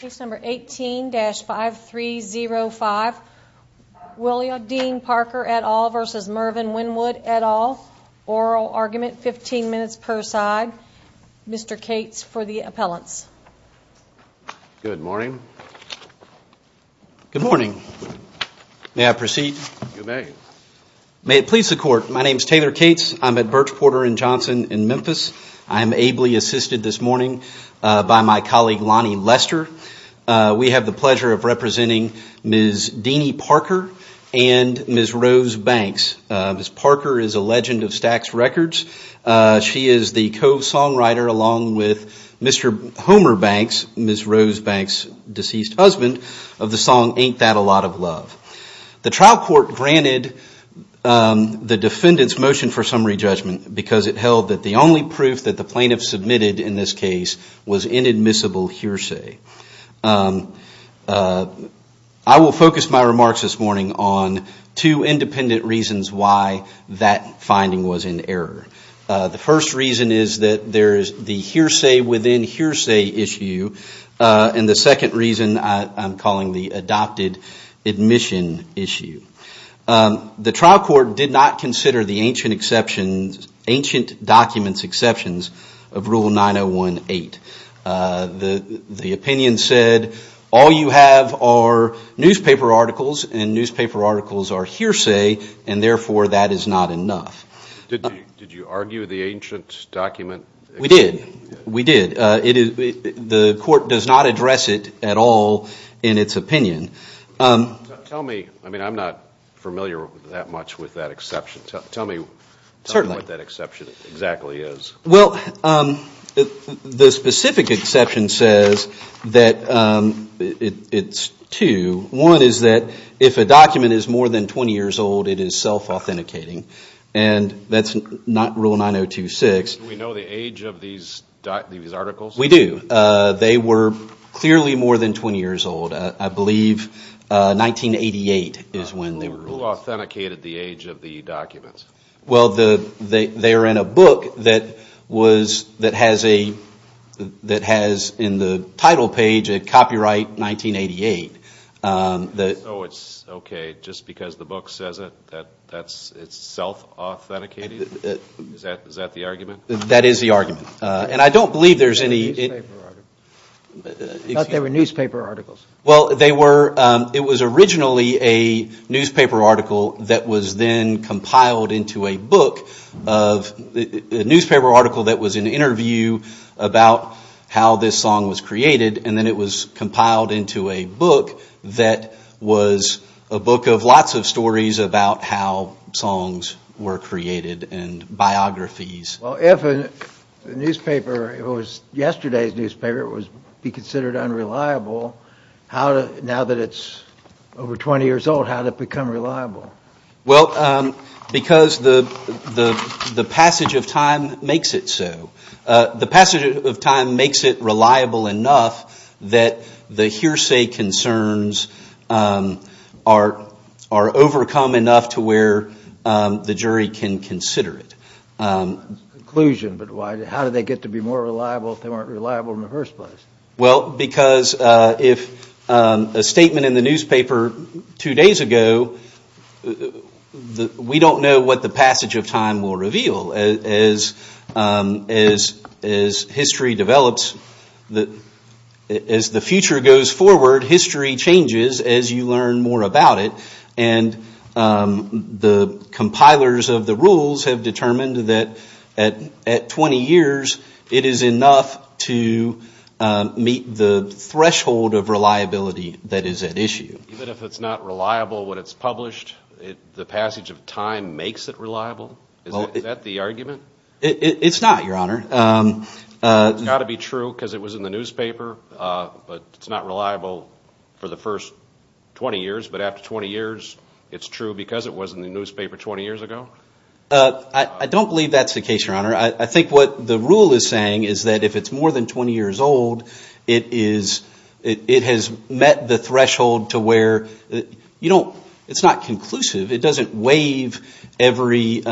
Case number 18-5305, Wilia Dean Parker et al versus Mervyn Winwood et al. Oral argument, 15 minutes per side. Mr. Cates for the appellants. Good morning. Good morning. May I proceed? You may. May it please the court, my name is Taylor Cates. I'm at Birch Porter and Johnson in Memphis. I am ably assisted this morning by my colleague Lonnie Lester. We have the pleasure of representing Ms. Deanie Parker and Ms. Rose Banks. Ms. Parker is a legend of Stax Records. She is the co-songwriter along with Mr. Homer Banks, Ms. Rose Banks' deceased husband, of the song Ain't That a Lot of Love. The trial court granted the defendant's motion for summary judgment because it held that the only proof that the plaintiff submitted in this case was inadmissible hearsay. I will focus my remarks this morning on two independent reasons why that finding was in error. The first reason is that there is the hearsay within hearsay issue. And the second reason I'm calling the adopted admission issue. The trial court did not consider the ancient exceptions, ancient documents exceptions of Rule 9018. The opinion said all you have are newspaper articles and newspaper articles are hearsay and therefore that is not enough. Did you argue the ancient document? We did. We did. The court does not address it at all in its opinion. Tell me, I mean I'm not familiar that much with that exception. Tell me what that exception exactly is. Well, the specific exception says that it's two. One is that if a document is more than 20 years old, it is self-authenticating. And that's not Rule 9026. Do we know the age of these articles? We do. They were clearly more than 20 years old. I believe 1988 is when they were released. Who authenticated the age of the documents? Well, they are in a book that has in the title page a copyright 1988. So it's okay just because the book says it, that it's self-authenticated? Is that the argument? That is the argument. And I don't believe there's any. I thought they were newspaper articles. Well, it was originally a newspaper article that was then compiled into a book, a newspaper article that was an interview about how this song was created. And then it was compiled into a book that was a book of lots of stories about how songs were created and biographies. Well, if a newspaper, if it was yesterday's newspaper, it would be considered unreliable. Now that it's over 20 years old, how did it become reliable? Well, because the passage of time makes it so. The passage of time makes it reliable enough that the hearsay concerns are overcome enough to where the jury can consider it. Conclusion, but how did they get to be more reliable if they weren't reliable in the first place? Well, because if a statement in the newspaper two days ago, we don't know what the passage of time will reveal. As history develops, as the future goes forward, history changes as you learn more about it. And the compilers of the rules have determined that at 20 years, it is enough to meet the threshold of reliability that is at issue. Even if it's not reliable when it's published, the passage of time makes it reliable? Is that the argument? It's not, Your Honor. It's got to be true because it was in the newspaper, but it's not reliable for the first 20 years. But after 20 years, it's true because it was in the newspaper 20 years ago? I don't believe that's the case, Your Honor. I think what the rule is saying is that if it's more than 20 years old, it has met the threshold to where it's not conclusive. It doesn't waive every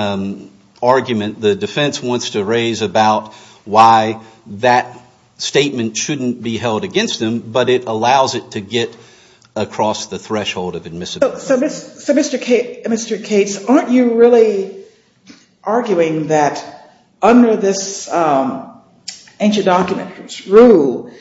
argument the defense wants to raise about why that statement shouldn't be held against them, but it allows it to get across the threshold of admissibility. So, Mr. Cates, aren't you really arguing that under this ancient document rule,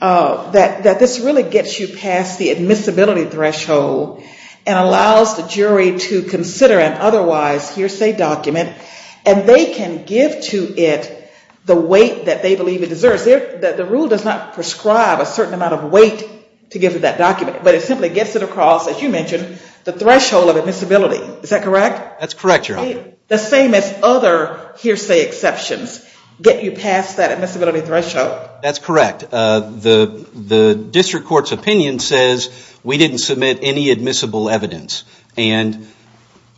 that this really gets you past the admissibility threshold and allows the jury to consider an otherwise hearsay document and they can give to it the weight that they believe it deserves? The rule does not prescribe a certain amount of weight to give to that document, but it simply gets it across, as you mentioned, the threshold of admissibility. Is that correct? That's correct, Your Honor. The same as other hearsay exceptions get you past that admissibility threshold? That's correct. The district court's opinion says we didn't submit any admissible evidence, and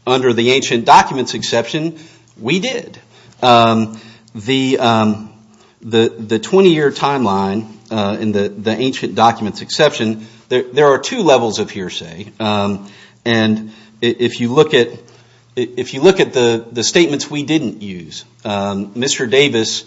under the ancient documents exception, we did. The 20-year timeline in the ancient documents exception, there are two levels of hearsay. If you look at the statements we didn't use, Mr. Davis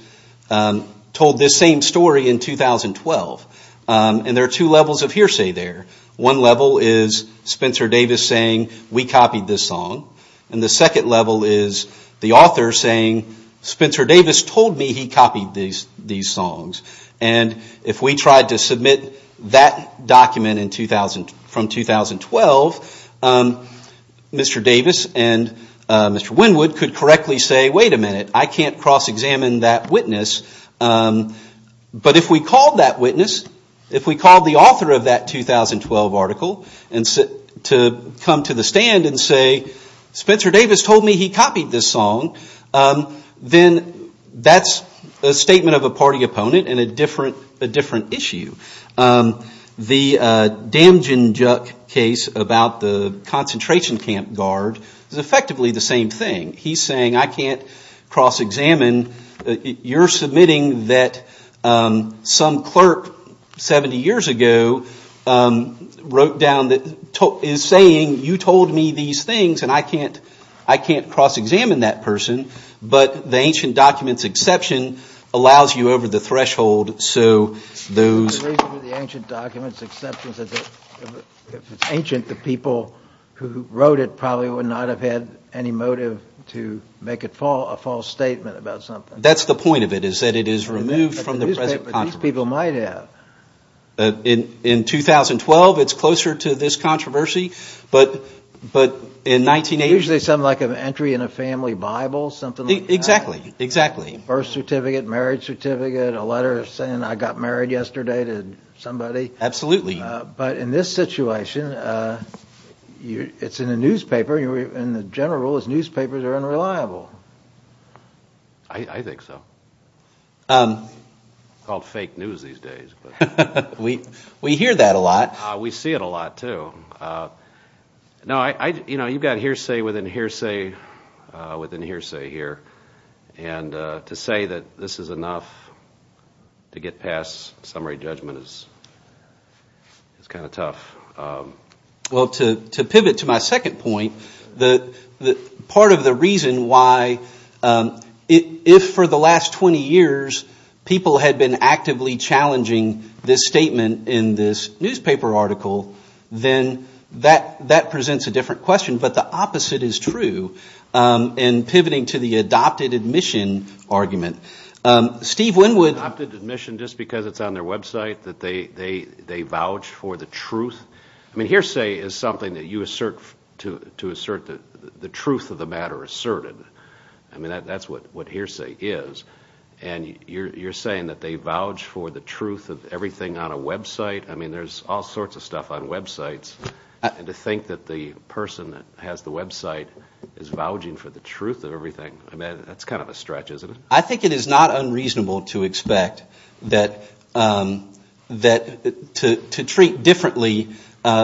told this same story in 2012, and there are two levels of hearsay there. One level is Spencer Davis saying, we copied this song, and the second level is the author saying, Spencer Davis told me he copied these songs. And if we tried to submit that document from 2012, Mr. Davis and Mr. Wynwood could correctly say, wait a minute, I can't cross-examine that witness, but if we called that witness, if we called the author of that 2012 article to come to the stand and say, Spencer Davis told me he copied this song, then that's a statement of a party opponent and a different issue. The Damjanjuk case about the concentration camp guard is effectively the same thing. He's saying, I can't cross-examine. You're submitting that some clerk 70 years ago wrote down, is saying, you told me these things, and I can't cross-examine that person, but the ancient documents exception allows you over the threshold, so those. The reason for the ancient documents exception is that if it's ancient, the people who wrote it probably would not have had any motive to make a false statement about something. That's the point of it, is that it is removed from the present controversy. These people might have. In 2012, it's closer to this controversy, but in 1980. Usually something like an entry in a family Bible, something like that. Exactly. Birth certificate, marriage certificate, a letter saying I got married yesterday to somebody. Absolutely. But in this situation, it's in a newspaper, and the general rule is newspapers are unreliable. I think so. It's called fake news these days. We hear that a lot. We see it a lot, too. You've got hearsay within hearsay within hearsay here, and to say that this is enough to get past summary judgment is kind of tough. Well, to pivot to my second point, part of the reason why if for the last 20 years people had been actively challenging this statement in this newspaper article, then that presents a different question, but the opposite is true in pivoting to the adopted admission argument. Steve Winwood. Adopted admission just because it's on their website, that they vouch for the truth? I mean, hearsay is something that you assert to assert the truth of the matter asserted. I mean, that's what hearsay is, and you're saying that they vouch for the truth of everything on a website? I mean, there's all sorts of stuff on websites, and to think that the person that has the website is vouching for the truth of everything, I mean, that's kind of a stretch, isn't it? I think it is not unreasonable to expect that to treat differently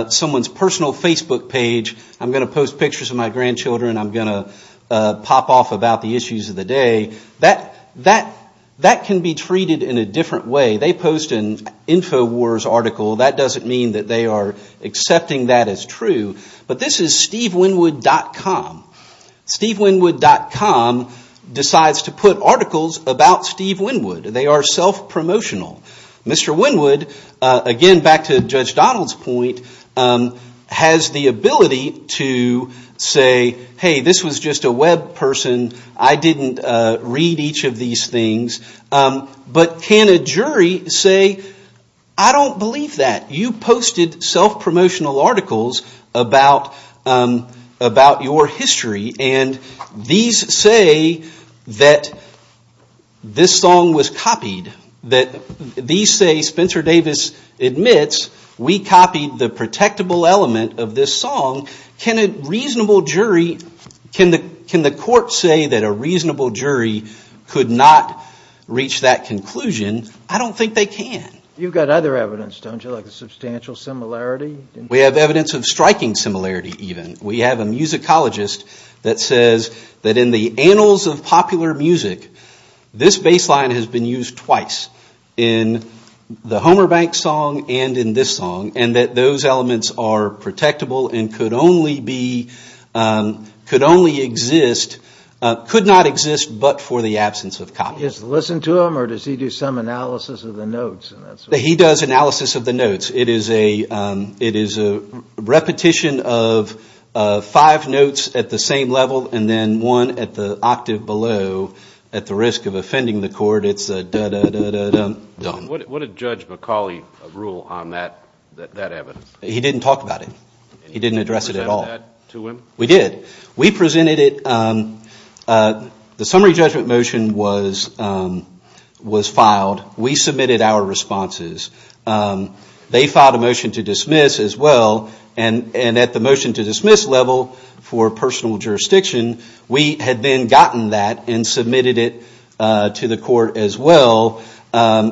someone's personal Facebook page. I'm going to post pictures of my grandchildren. I'm going to pop off about the issues of the day. That can be treated in a different way. They post an InfoWars article. That doesn't mean that they are accepting that as true, but this is SteveWinwood.com. SteveWinwood.com decides to put articles about Steve Winwood. They are self-promotional. Mr. Winwood, again, back to Judge Donald's point, has the ability to say, hey, this was just a web person. I didn't read each of these things. But can a jury say, I don't believe that. You posted self-promotional articles about your history, and these say that this song was copied. These say, Spencer Davis admits, we copied the protectable element of this song. Can a reasonable jury, can the court say that a reasonable jury could not reach that conclusion? I don't think they can. You've got other evidence, don't you, like a substantial similarity? We have evidence of striking similarity, even. We have a musicologist that says that in the annals of popular music, this bass line has been used twice, in the Homer Banks song and in this song, and that those elements are protectable and could only exist, could not exist but for the absence of copy. Does he just listen to them or does he do some analysis of the notes? He does analysis of the notes. It is a repetition of five notes at the same level and then one at the octave below at the risk of offending the court. It's a da-da-da-da-dum. What did Judge McCauley rule on that evidence? He didn't talk about it. He didn't address it at all. Did you present that to him? We did. We presented it. The summary judgment motion was filed. We submitted our responses. They filed a motion to dismiss as well, and at the motion to dismiss level for personal jurisdiction, we had then gotten that and submitted it to the court as well,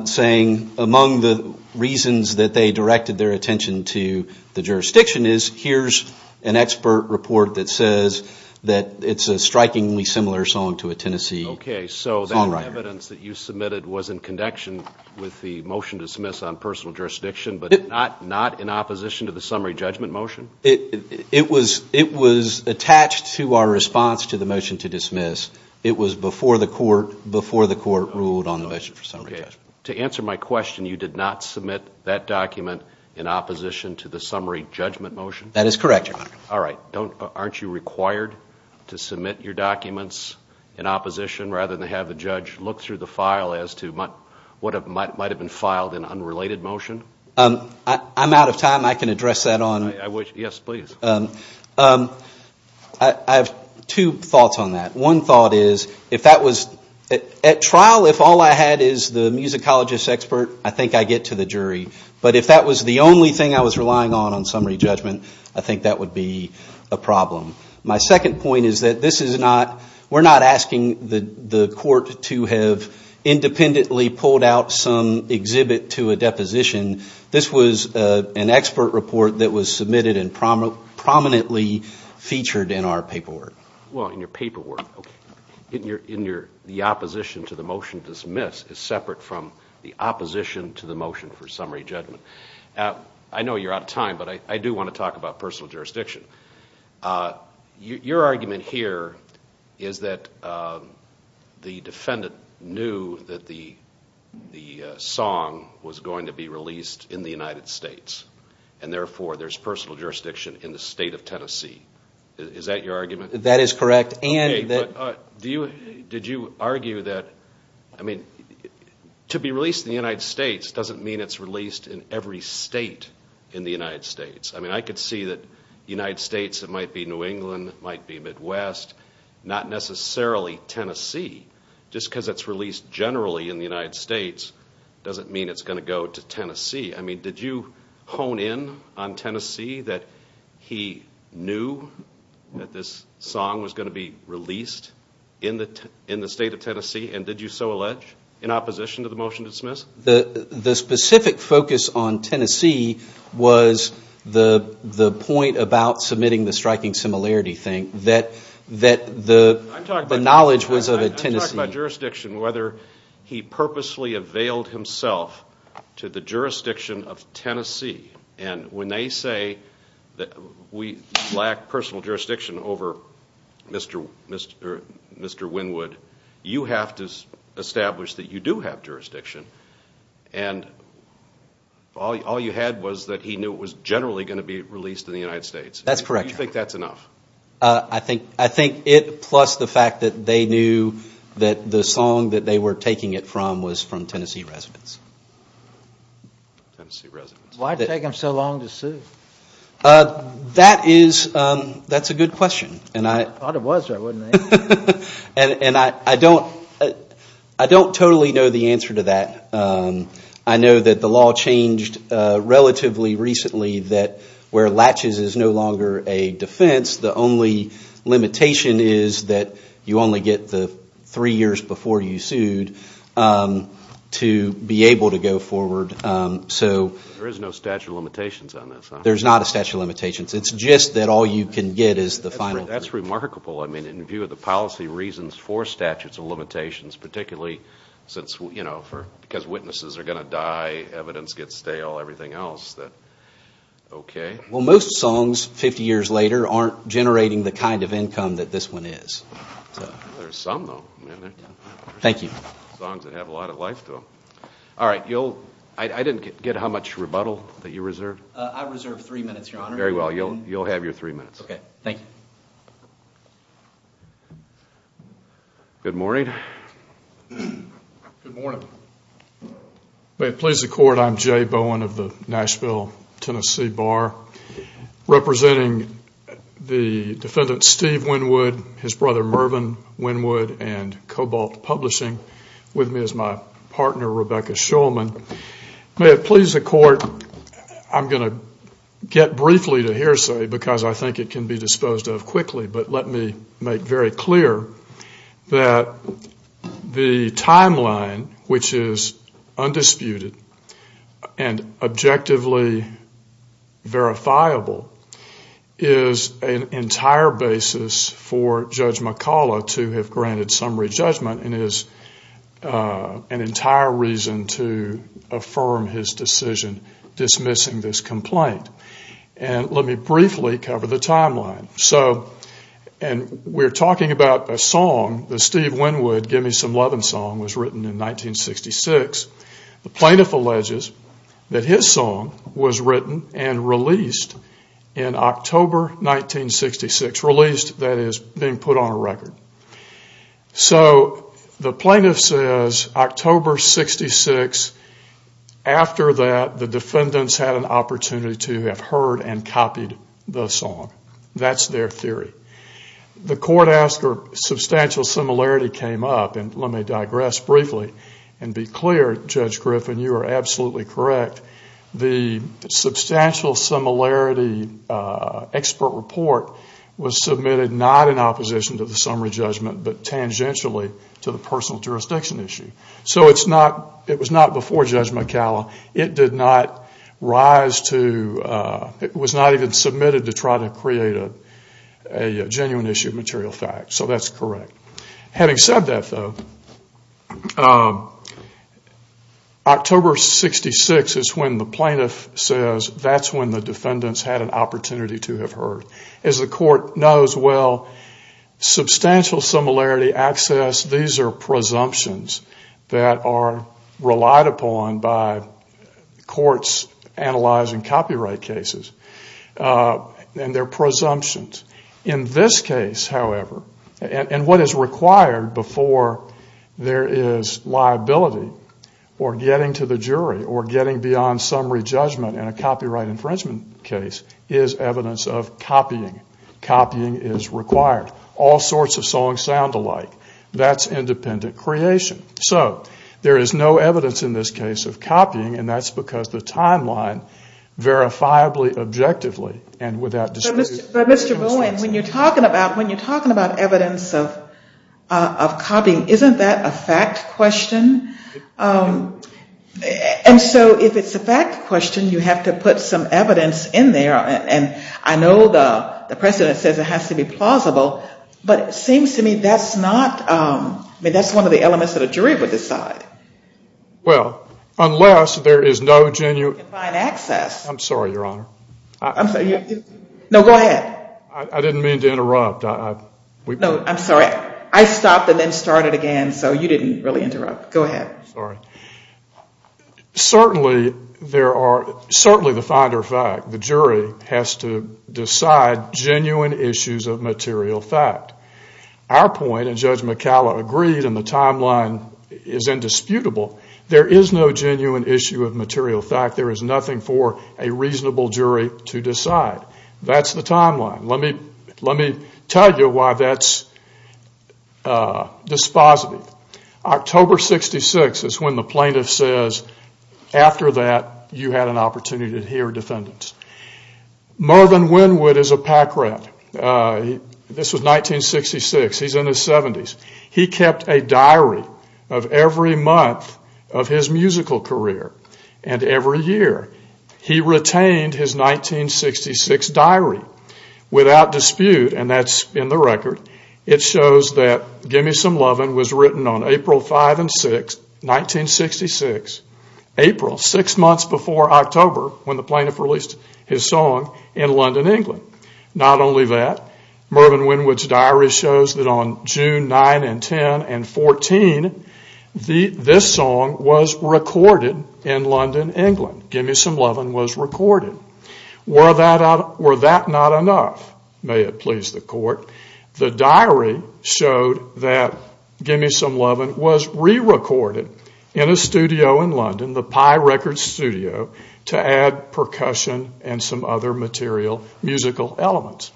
saying among the reasons that they directed their attention to the jurisdiction is here's an expert report that says that it's a strikingly similar song to a Tennessee songwriter. Okay. So that evidence that you submitted was in connection with the motion to dismiss on personal jurisdiction but not in opposition to the summary judgment motion? It was attached to our response to the motion to dismiss. It was before the court ruled on the motion for summary judgment. Okay. To answer my question, you did not submit that document in opposition to the summary judgment motion? That is correct, Your Honor. All right. Aren't you required to submit your documents in opposition rather than have the judge look through the file as to what might have been filed in unrelated motion? I'm out of time. I can address that on. Yes, please. I have two thoughts on that. One thought is if that was at trial if all I had is the musicologist expert, I think I get to the jury. But if that was the only thing I was relying on on summary judgment, I think that would be a problem. My second point is that we're not asking the court to have independently pulled out some exhibit to a deposition. This was an expert report that was submitted and prominently featured in our paperwork. Well, in your paperwork. Okay. The opposition to the motion dismissed is separate from the opposition to the motion for summary judgment. I know you're out of time, but I do want to talk about personal jurisdiction. Your argument here is that the defendant knew that the song was going to be released in the United States and, therefore, there's personal jurisdiction in the state of Tennessee. Is that your argument? That is correct. Did you argue that to be released in the United States doesn't mean it's released in every state in the United States? I could see that the United States, it might be New England, it might be Midwest, not necessarily Tennessee. Just because it's released generally in the United States doesn't mean it's going to go to Tennessee. Did you hone in on Tennessee that he knew that this song was going to be released in the state of Tennessee, and did you so allege, in opposition to the motion to dismiss? The specific focus on Tennessee was the point about submitting the striking similarity thing, that the knowledge was of a Tennessee. I'm talking about jurisdiction, whether he purposely availed himself to the jurisdiction of Tennessee, and when they say that we lack personal jurisdiction over Mr. Wynwood, you have to establish that you do have jurisdiction, and all you had was that he knew it was generally going to be released in the United States. That's correct. Do you think that's enough? I think it, plus the fact that they knew that the song that they were taking it from was from Tennessee residents. Tennessee residents. Why did it take them so long to sue? That is, that's a good question. I thought it was though, wasn't it? And I don't totally know the answer to that. I know that the law changed relatively recently that where Latches is no longer a defense, the only limitation is that you only get the three years before you sued to be able to go forward. There is no statute of limitations on this, huh? There's not a statute of limitations. It's just that all you can get is the final. That's remarkable. I mean, in view of the policy reasons for statutes of limitations, particularly since, you know, because witnesses are going to die, evidence gets stale, everything else. Okay. Well, most songs 50 years later aren't generating the kind of income that this one is. There's some though. Thank you. Songs that have a lot of life to them. All right. I didn't get how much rebuttal that you reserved. I reserved three minutes, Your Honor. Very well. You'll have your three minutes. Okay. Thank you. Good morning. Good morning. May it please the Court, I'm Jay Bowen of the Nashville, Tennessee Bar. Representing the defendant, Steve Wynwood, his brother, Mervyn Wynwood, and Cobalt Publishing. With me is my partner, Rebecca Shulman. May it please the Court, I'm going to get briefly to hearsay because I think it can be disposed of quickly, but let me make very clear that the timeline, which is undisputed and objectively verifiable, is an entire basis for Judge McCullough to have granted summary judgment and is an entire reason to affirm his decision dismissing this complaint. And let me briefly cover the timeline. So we're talking about a song, the Steve Wynwood, Give Me Some Lovin' Song was written in 1966. The plaintiff alleges that his song was written and released in October 1966, released, that is, being put on a record. So the plaintiff says October 66, after that the defendants had an opportunity to have heard and copied the song. That's their theory. The court asked for substantial similarity came up, and let me digress briefly and be clear, Judge Griffin, you are absolutely correct. The substantial similarity expert report was submitted not in opposition to the summary judgment, but tangentially to the personal jurisdiction issue. So it was not before Judge McCullough. It did not rise to, it was not even submitted to try to create a genuine issue of material fact. So that's correct. Having said that, though, October 66 is when the plaintiff says that's when the defendants had an opportunity to have heard. As the court knows well, substantial similarity access, these are presumptions that are relied upon by courts analyzing copyright cases. And they're presumptions. In this case, however, and what is required before there is liability or getting to the jury or getting beyond summary judgment in a copyright infringement case is evidence of copying. Copying is required. All sorts of songs sound alike. That's independent creation. So there is no evidence in this case of copying, and that's because the timeline verifiably, objectively, and without dispute. But Mr. Bowen, when you're talking about evidence of copying, isn't that a fact question? And so if it's a fact question, you have to put some evidence in there. And I know the precedent says it has to be plausible, but it seems to me that's not one of the elements that a jury would decide. Well, unless there is no genuine access. I'm sorry, Your Honor. No, go ahead. I didn't mean to interrupt. No, I'm sorry. I stopped and then started again, so you didn't really interrupt. Go ahead. Sorry. Certainly the finder of fact, the jury, has to decide genuine issues of material fact. Our point, and Judge McCalla agreed, and the timeline is indisputable, there is no genuine issue of material fact. There is nothing for a reasonable jury to decide. That's the timeline. Let me tell you why that's dispositive. October 66 is when the plaintiff says, after that you had an opportunity to hear defendants. Marvin Wynwood is a PAC rep. This was 1966. He's in his 70s. He kept a diary of every month of his musical career and every year. He retained his 1966 diary without dispute, and that's in the record. It shows that Gimme Some Lovin' was written on April 5 and 6, 1966, April, six months before October when the plaintiff released his song in London, England. Not only that, Marvin Wynwood's diary shows that on June 9 and 10 and 14, this song was recorded in London, England. Gimme Some Lovin' was recorded. Were that not enough, may it please the court, the diary showed that Gimme Some Lovin' was re-recorded in a studio in London, the Pye Records Studio, to add percussion and some other material musical elements.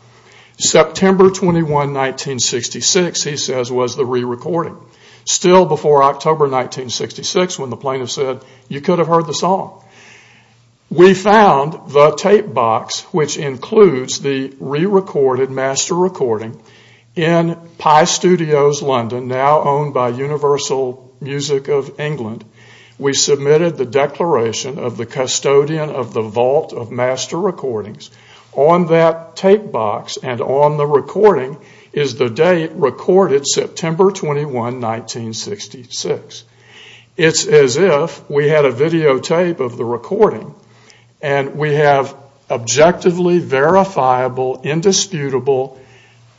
September 21, 1966, he says, was the re-recording, still before October 1966 when the plaintiff said, you could have heard the song. We found the tape box, which includes the re-recorded master recording, in Pye Studios, London, now owned by Universal Music of England. We submitted the declaration of the custodian of the vault of master recordings. On that tape box and on the recording is the date recorded, September 21, 1966. It's as if we had a videotape of the recording and we have objectively verifiable, indisputable,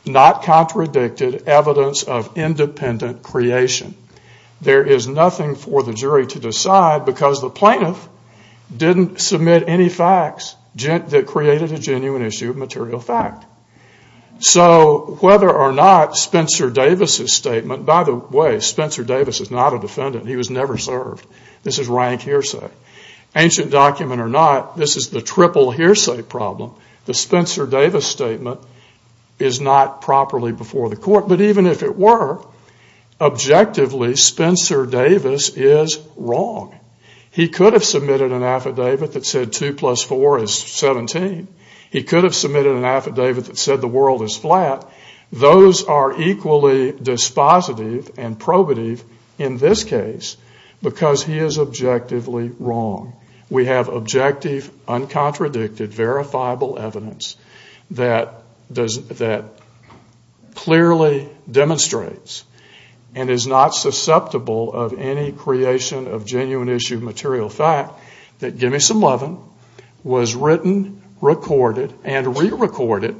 not contradicted evidence of independent creation. There is nothing for the jury to decide because the plaintiff didn't submit any facts that created a genuine issue of material fact. So whether or not Spencer Davis' statement, by the way, Spencer Davis is not a defendant. He was never served. This is rank hearsay. Ancient document or not, this is the triple hearsay problem. The Spencer Davis statement is not properly before the court. But even if it were, objectively, Spencer Davis is wrong. He could have submitted an affidavit that said 2 plus 4 is 17. He could have submitted an affidavit that said the world is flat. Those are equally dispositive and probative in this case because he is objectively wrong. We have objective, uncontradicted, verifiable evidence that clearly demonstrates and is not susceptible of any creation of genuine issue of material fact that Gimme Some Lovin' was written, recorded, and re-recorded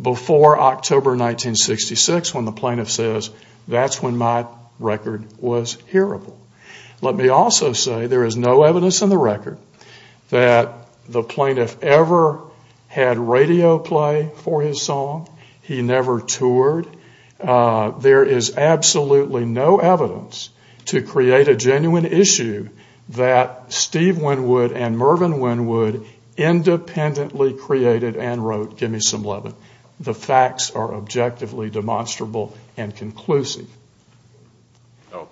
before October 1966 when the plaintiff says that's when my record was hearable. Let me also say there is no evidence in the record that the plaintiff ever had radio play for his song. He never toured. There is absolutely no evidence to create a genuine issue that Steve Wynwood and Mervyn Wynwood independently created and wrote Gimme Some Lovin'. The facts are objectively demonstrable and conclusive.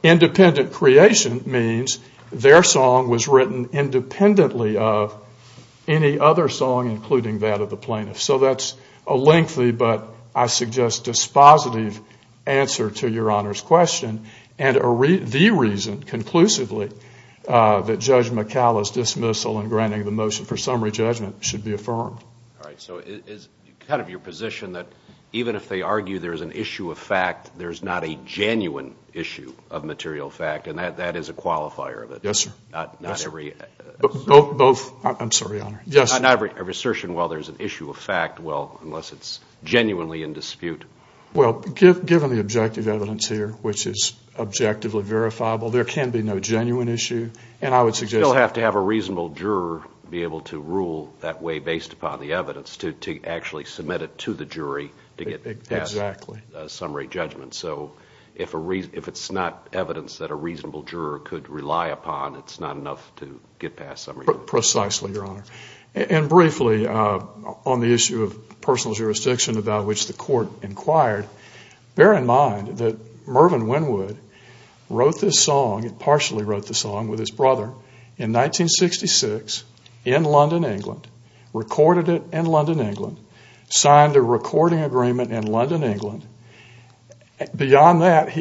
Independent creation means their song was written independently of any other song, including that of the plaintiff. So that's a lengthy but I suggest dispositive answer to Your Honor's question and the reason conclusively that Judge McCalla's dismissal and granting the motion for summary judgment should be affirmed. All right. So it's kind of your position that even if they argue there's an issue of fact, there's not a genuine issue of material fact, and that is a qualifier of it. Yes, sir. Not every assertion. Both. I'm sorry, Your Honor. Yes. Not every assertion. Well, there's an issue of fact. Well, unless it's genuinely in dispute. Well, given the objective evidence here, which is objectively verifiable, there can be no genuine issue, and I would suggest that. You still have to have a reasonable juror be able to rule that way based upon the evidence to actually submit it to the jury to get past summary judgment. So if it's not evidence that a reasonable juror could rely upon, it's not enough to get past summary judgment. Precisely, Your Honor. And briefly, on the issue of personal jurisdiction about which the court inquired, bear in mind that Mervyn Wynwood wrote this song, partially wrote the song with his brother in 1966 in London, England, recorded it in London, England, signed a recording agreement in London, England. Beyond that,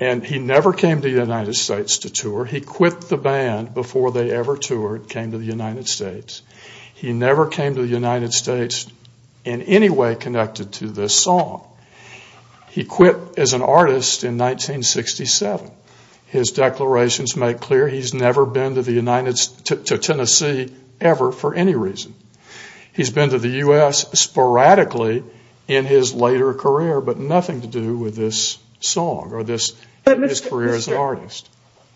and he never came to the United States to tour, he quit the band before they ever toured, came to the United States. He never came to the United States in any way connected to this song. He quit as an artist in 1967. His declarations make clear he's never been to Tennessee ever for any reason. He's been to the U.S. sporadically in his later career, but nothing to do with this song or his career as an artist.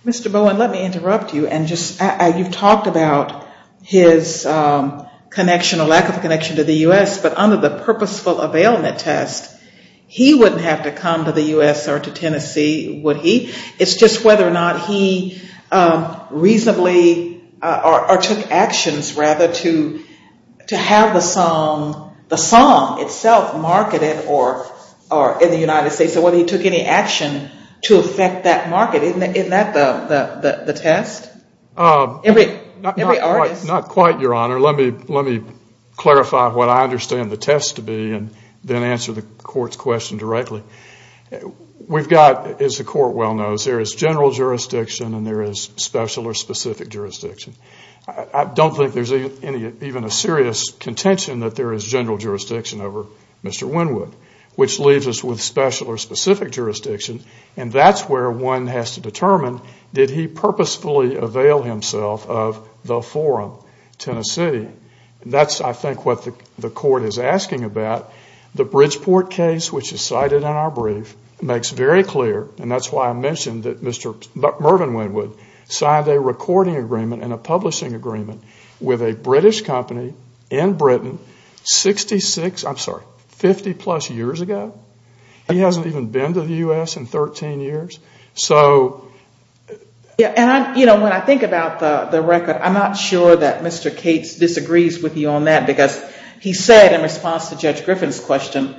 Mr. Bowen, let me interrupt you. You've talked about his connection or lack of connection to the U.S., but under the purposeful availment test, he wouldn't have to come to the U.S. or to Tennessee, would he? It's just whether or not he reasonably or took actions, rather, to have the song itself marketed in the United States, or whether he took any action to affect that market. Isn't that the test? Not quite, Your Honor. Let me clarify what I understand the test to be and then answer the Court's question directly. We've got, as the Court well knows, there is general jurisdiction and there is special or specific jurisdiction. I don't think there's even a serious contention that there is general jurisdiction over Mr. Wynwood, which leaves us with special or specific jurisdiction, and that's where one has to determine, did he purposefully avail himself of the forum, Tennessee? That's, I think, what the Court is asking about. The Bridgeport case, which is cited in our brief, makes very clear, and that's why I mentioned that Mr. Mervyn Wynwood signed a recording agreement and a publishing agreement with a British company in Britain 50-plus years ago. He hasn't even been to the U.S. in 13 years. When I think about the record, I'm not sure that Mr. Cates disagrees with you on that because he said in response to Judge Griffin's question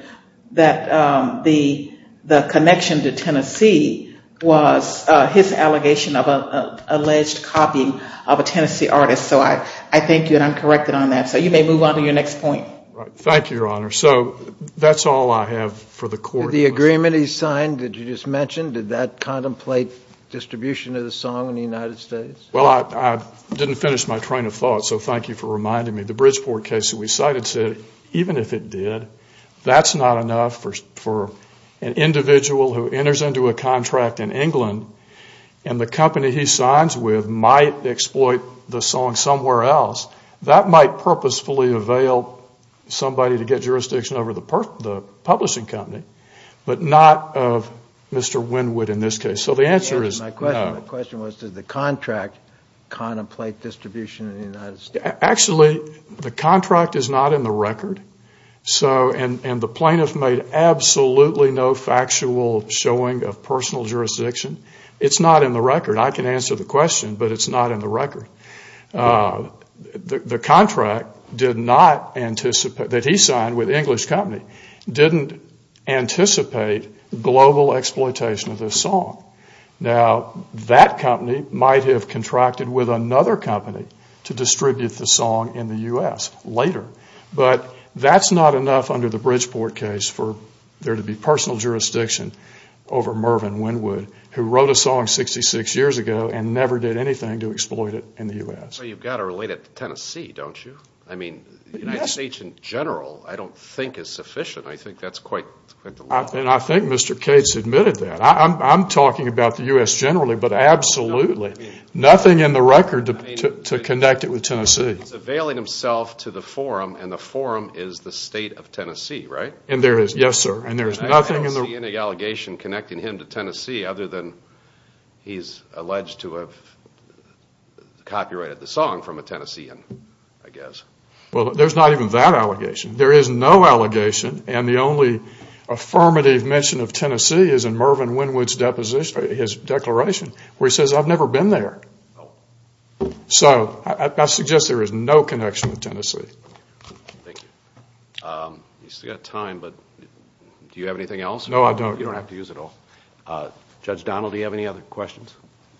that the connection to Tennessee was his allegation of an alleged copying of a Tennessee artist. So I thank you, and I'm corrected on that. So you may move on to your next point. Thank you, Your Honor. So that's all I have for the Court. The agreement he signed that you just mentioned, did that contemplate distribution of the song in the United States? Well, I didn't finish my train of thought, so thank you for reminding me. The Bridgeport case that we cited said even if it did, that's not enough for an individual who enters into a contract in England and the company he signs with might exploit the song somewhere else. That might purposefully avail somebody to get jurisdiction over the publishing company, but not of Mr. Wynwood in this case. So the answer is no. My question was, did the contract contemplate distribution in the United States? Actually, the contract is not in the record. And the plaintiff made absolutely no factual showing of personal jurisdiction. It's not in the record. I can answer the question, but it's not in the record. The contract that he signed with the English company didn't anticipate global exploitation of this song. Now, that company might have contracted with another company to distribute the song in the U.S. later. But that's not enough under the Bridgeport case for there to be personal jurisdiction over Mervyn Wynwood, who wrote a song 66 years ago and never did anything to exploit it in the U.S. Well, you've got to relate it to Tennessee, don't you? I mean, the United States in general I don't think is sufficient. I think that's quite the law. And I think Mr. Cates admitted that. I'm talking about the U.S. generally, but absolutely nothing in the record to connect it with Tennessee. He's availing himself to the forum, and the forum is the state of Tennessee, right? Yes, sir. And there is nothing in the record. I don't see any allegation connecting him to Tennessee other than he's alleged to have copyrighted the song from a Tennessean, I guess. Well, there's not even that allegation. There is no allegation, and the only affirmative mention of Tennessee is in Mervyn Wynwood's declaration where he says, I've never been there. So I suggest there is no connection with Tennessee. Thank you. We've still got time, but do you have anything else? No, I don't. You don't have to use it all. Judge Donald, do you have any other questions?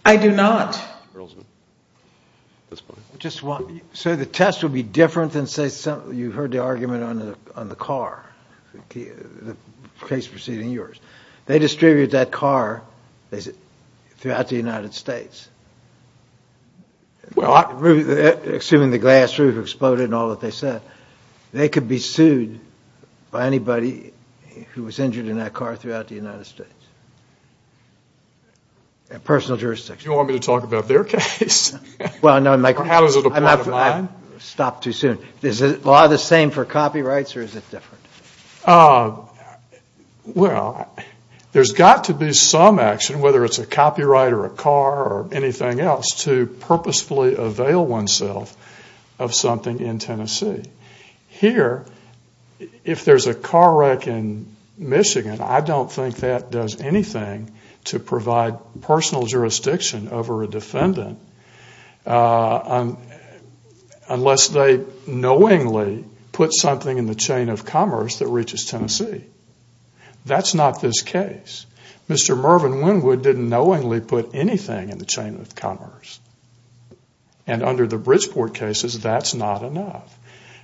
I do not. Mr. Berlesman, at this point. Just one. So the test would be different than, say, you heard the argument on the car, the case preceding yours. They distributed that car throughout the United States. Well, I. Assuming the glass roof exploded and all that they said. They could be sued by anybody who was injured in that car throughout the United States. Personal jurisdiction. You want me to talk about their case? Well, no. Or how does it apply to mine? I'm not going to stop too soon. Is the law the same for copyrights, or is it different? Well, there's got to be some action, whether it's a copyright or a car or anything else, to purposefully avail oneself of something in Tennessee. Here, if there's a car wreck in Michigan, I don't think that does anything to provide personal jurisdiction over a defendant unless they knowingly put something in the chain of commerce that reaches Tennessee. That's not this case. Mr. Mervyn Wynwood didn't knowingly put anything in the chain of commerce. And under the Bridgeport cases, that's not enough.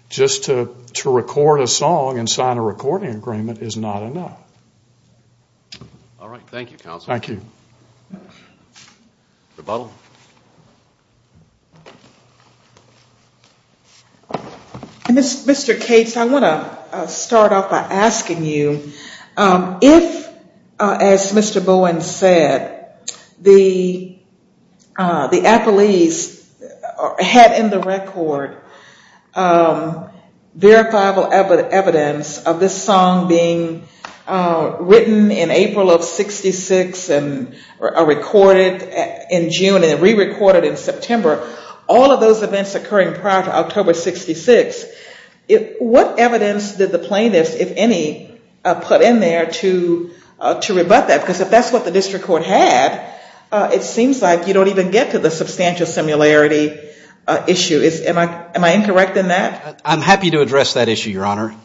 Just to record a song and sign a recording agreement is not enough. All right. Thank you, counsel. Thank you. Rebuttal. Mr. Cates, I want to start off by asking you, if, as Mr. Bowen said, the Appleese had in the record verifiable evidence of this song being written in April of 66 and recorded in June and re-recorded in September, all of those events occurring prior to October 66, what evidence did the plaintiffs, if any, put in there to rebut that? Because if that's what the district court had, it seems like you don't even get to the substantial similarity issue. Am I incorrect in that? I'm happy to address that issue, Your Honor.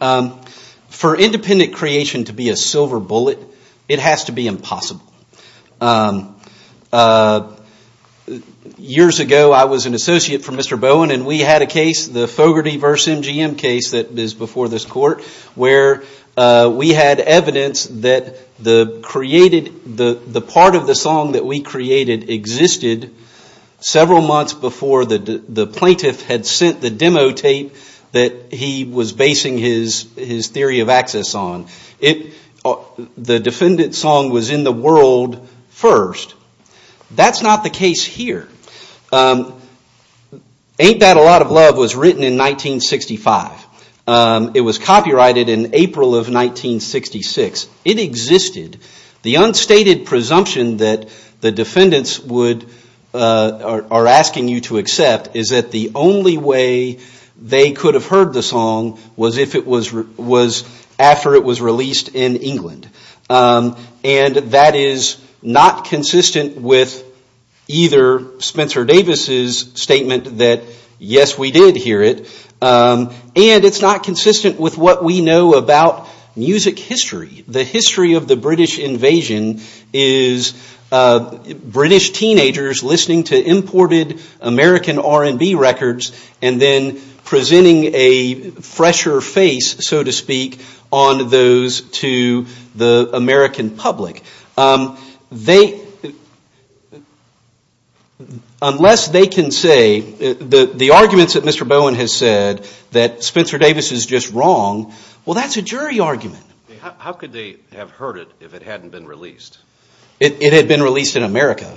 For independent creation to be a silver bullet, it has to be impossible. Years ago, I was an associate for Mr. Bowen, and we had a case, the Fogarty v. MGM case that is before this court, where we had evidence that the part of the song that we created existed several months before the plaintiff had sent the demo tape that he was basing his theory of access on. The defendant's song was in the world first. That's not the case here. Ain't That a Lot of Love was written in 1965. It was copyrighted in April of 1966. It existed. The unstated presumption that the defendants are asking you to accept is that the only way they could have heard the song was after it was released in England. That is not consistent with either Spencer Davis's statement that, yes, we did hear it, and it's not consistent with what we know about music history. The history of the British invasion is British teenagers listening to imported American R&B records and then presenting a fresher face, so to speak, on those to the American public. Unless they can say the arguments that Mr. Bowen has said that Spencer Davis is just wrong, well, that's a jury argument. How could they have heard it if it hadn't been released? It had been released in America.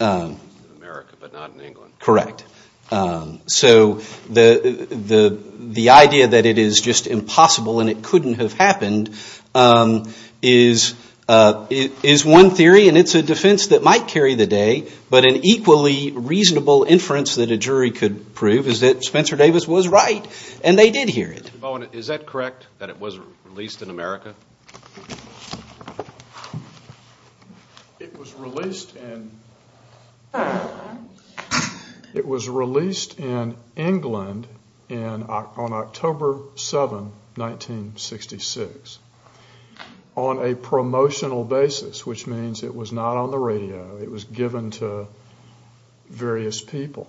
In America, but not in England. Correct. So the idea that it is just impossible and it couldn't have happened is one theory, and it's a defense that might carry the day, but an equally reasonable inference that a jury could prove is that Spencer Davis was right, and they did hear it. Mr. Bowen, is that correct, that it was released in America? It was released in England on October 7, 1966. On a promotional basis, which means it was not on the radio. It was given to various people.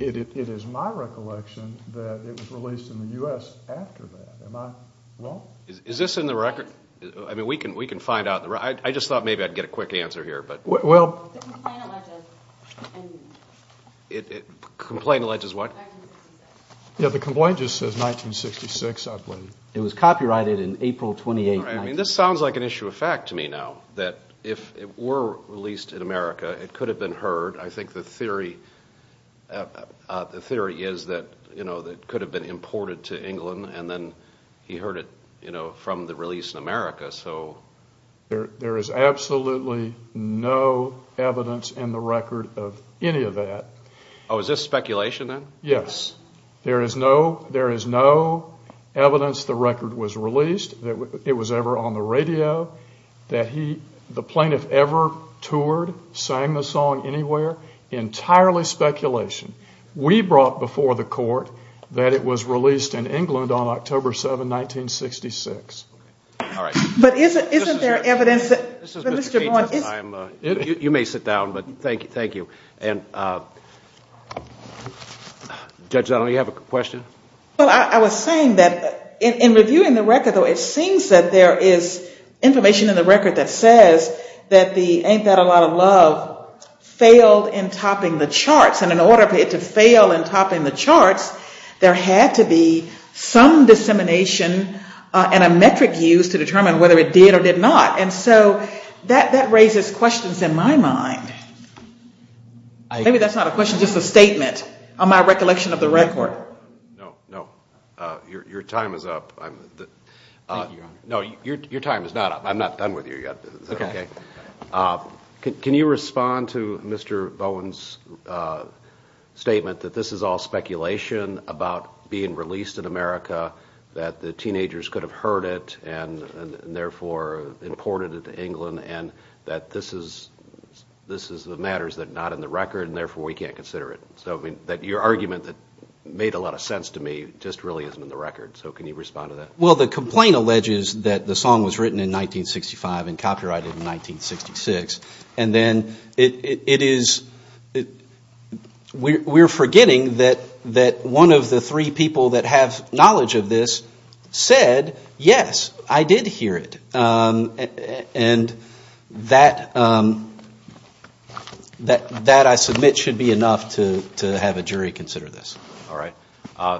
It is my recollection that it was released in the U.S. after that. Am I wrong? Is this in the record? I mean, we can find out. I just thought maybe I'd get a quick answer here. The complaint alleges what? Yeah, the complaint just says 1966, I believe. It was copyrighted in April 28, 1996. This sounds like an issue of fact to me now, that if it were released in America, it could have been heard. I think the theory is that it could have been imported to England and then he heard it from the release in America. There is absolutely no evidence in the record of any of that. Oh, is this speculation then? Yes. There is no evidence the record was released, that it was ever on the radio, that the plaintiff ever toured, sang the song anywhere. Entirely speculation. We brought before the court that it was released in England on October 7, 1966. All right. But isn't there evidence that Mr. Vaughn is? You may sit down, but thank you. Judge Donnelly, you have a question? Well, I was saying that in reviewing the record, though, it seems that there is information in the record that says that the Ain't That a Lot of Love failed in topping the charts. And in order for it to fail in topping the charts, there had to be some dissemination and a metric used to determine whether it did or did not. And so that raises questions in my mind. Maybe that's not a question, just a statement on my recollection of the record. No, no. Your time is up. Thank you, Your Honor. No, your time is not up. I'm not done with you yet. Okay. Can you respond to Mr. Vaughn's statement that this is all speculation about being released in America, that the teenagers could have heard it and, therefore, imported it to England, and that this is the matters that are not in the record and, therefore, we can't consider it? So, I mean, your argument that made a lot of sense to me just really isn't in the record. So can you respond to that? Well, the complaint alleges that the song was written in 1965 and copyrighted in 1966. And then it is we're forgetting that one of the three people that have written the song, I did hear it. And that, I submit, should be enough to have a jury consider this. All right.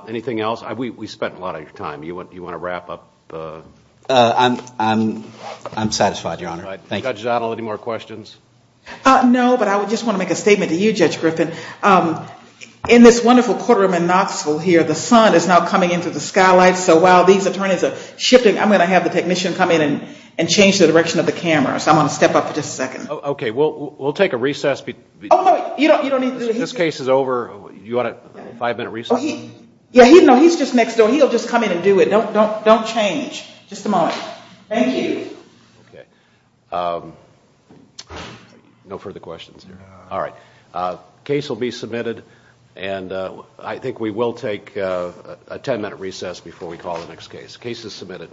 Anything else? We spent a lot of your time. Do you want to wrap up? I'm satisfied, Your Honor. Thank you. Judge Zottel, any more questions? No, but I just want to make a statement to you, Judge Griffin. In this wonderful courtroom in Knoxville here, the sun is now coming in through the skylight. So while these attorneys are shifting, I'm going to have the technician come in and change the direction of the camera. So I'm going to step up for just a second. Okay. We'll take a recess. Oh, you don't need to do that. This case is over. Do you want a five-minute recess? Yeah, he's just next door. He'll just come in and do it. Don't change. Just a moment. Thank you. Okay. No further questions here. All right. Case will be submitted. I think we will take a ten-minute recess before we call the next case. Case is submitted.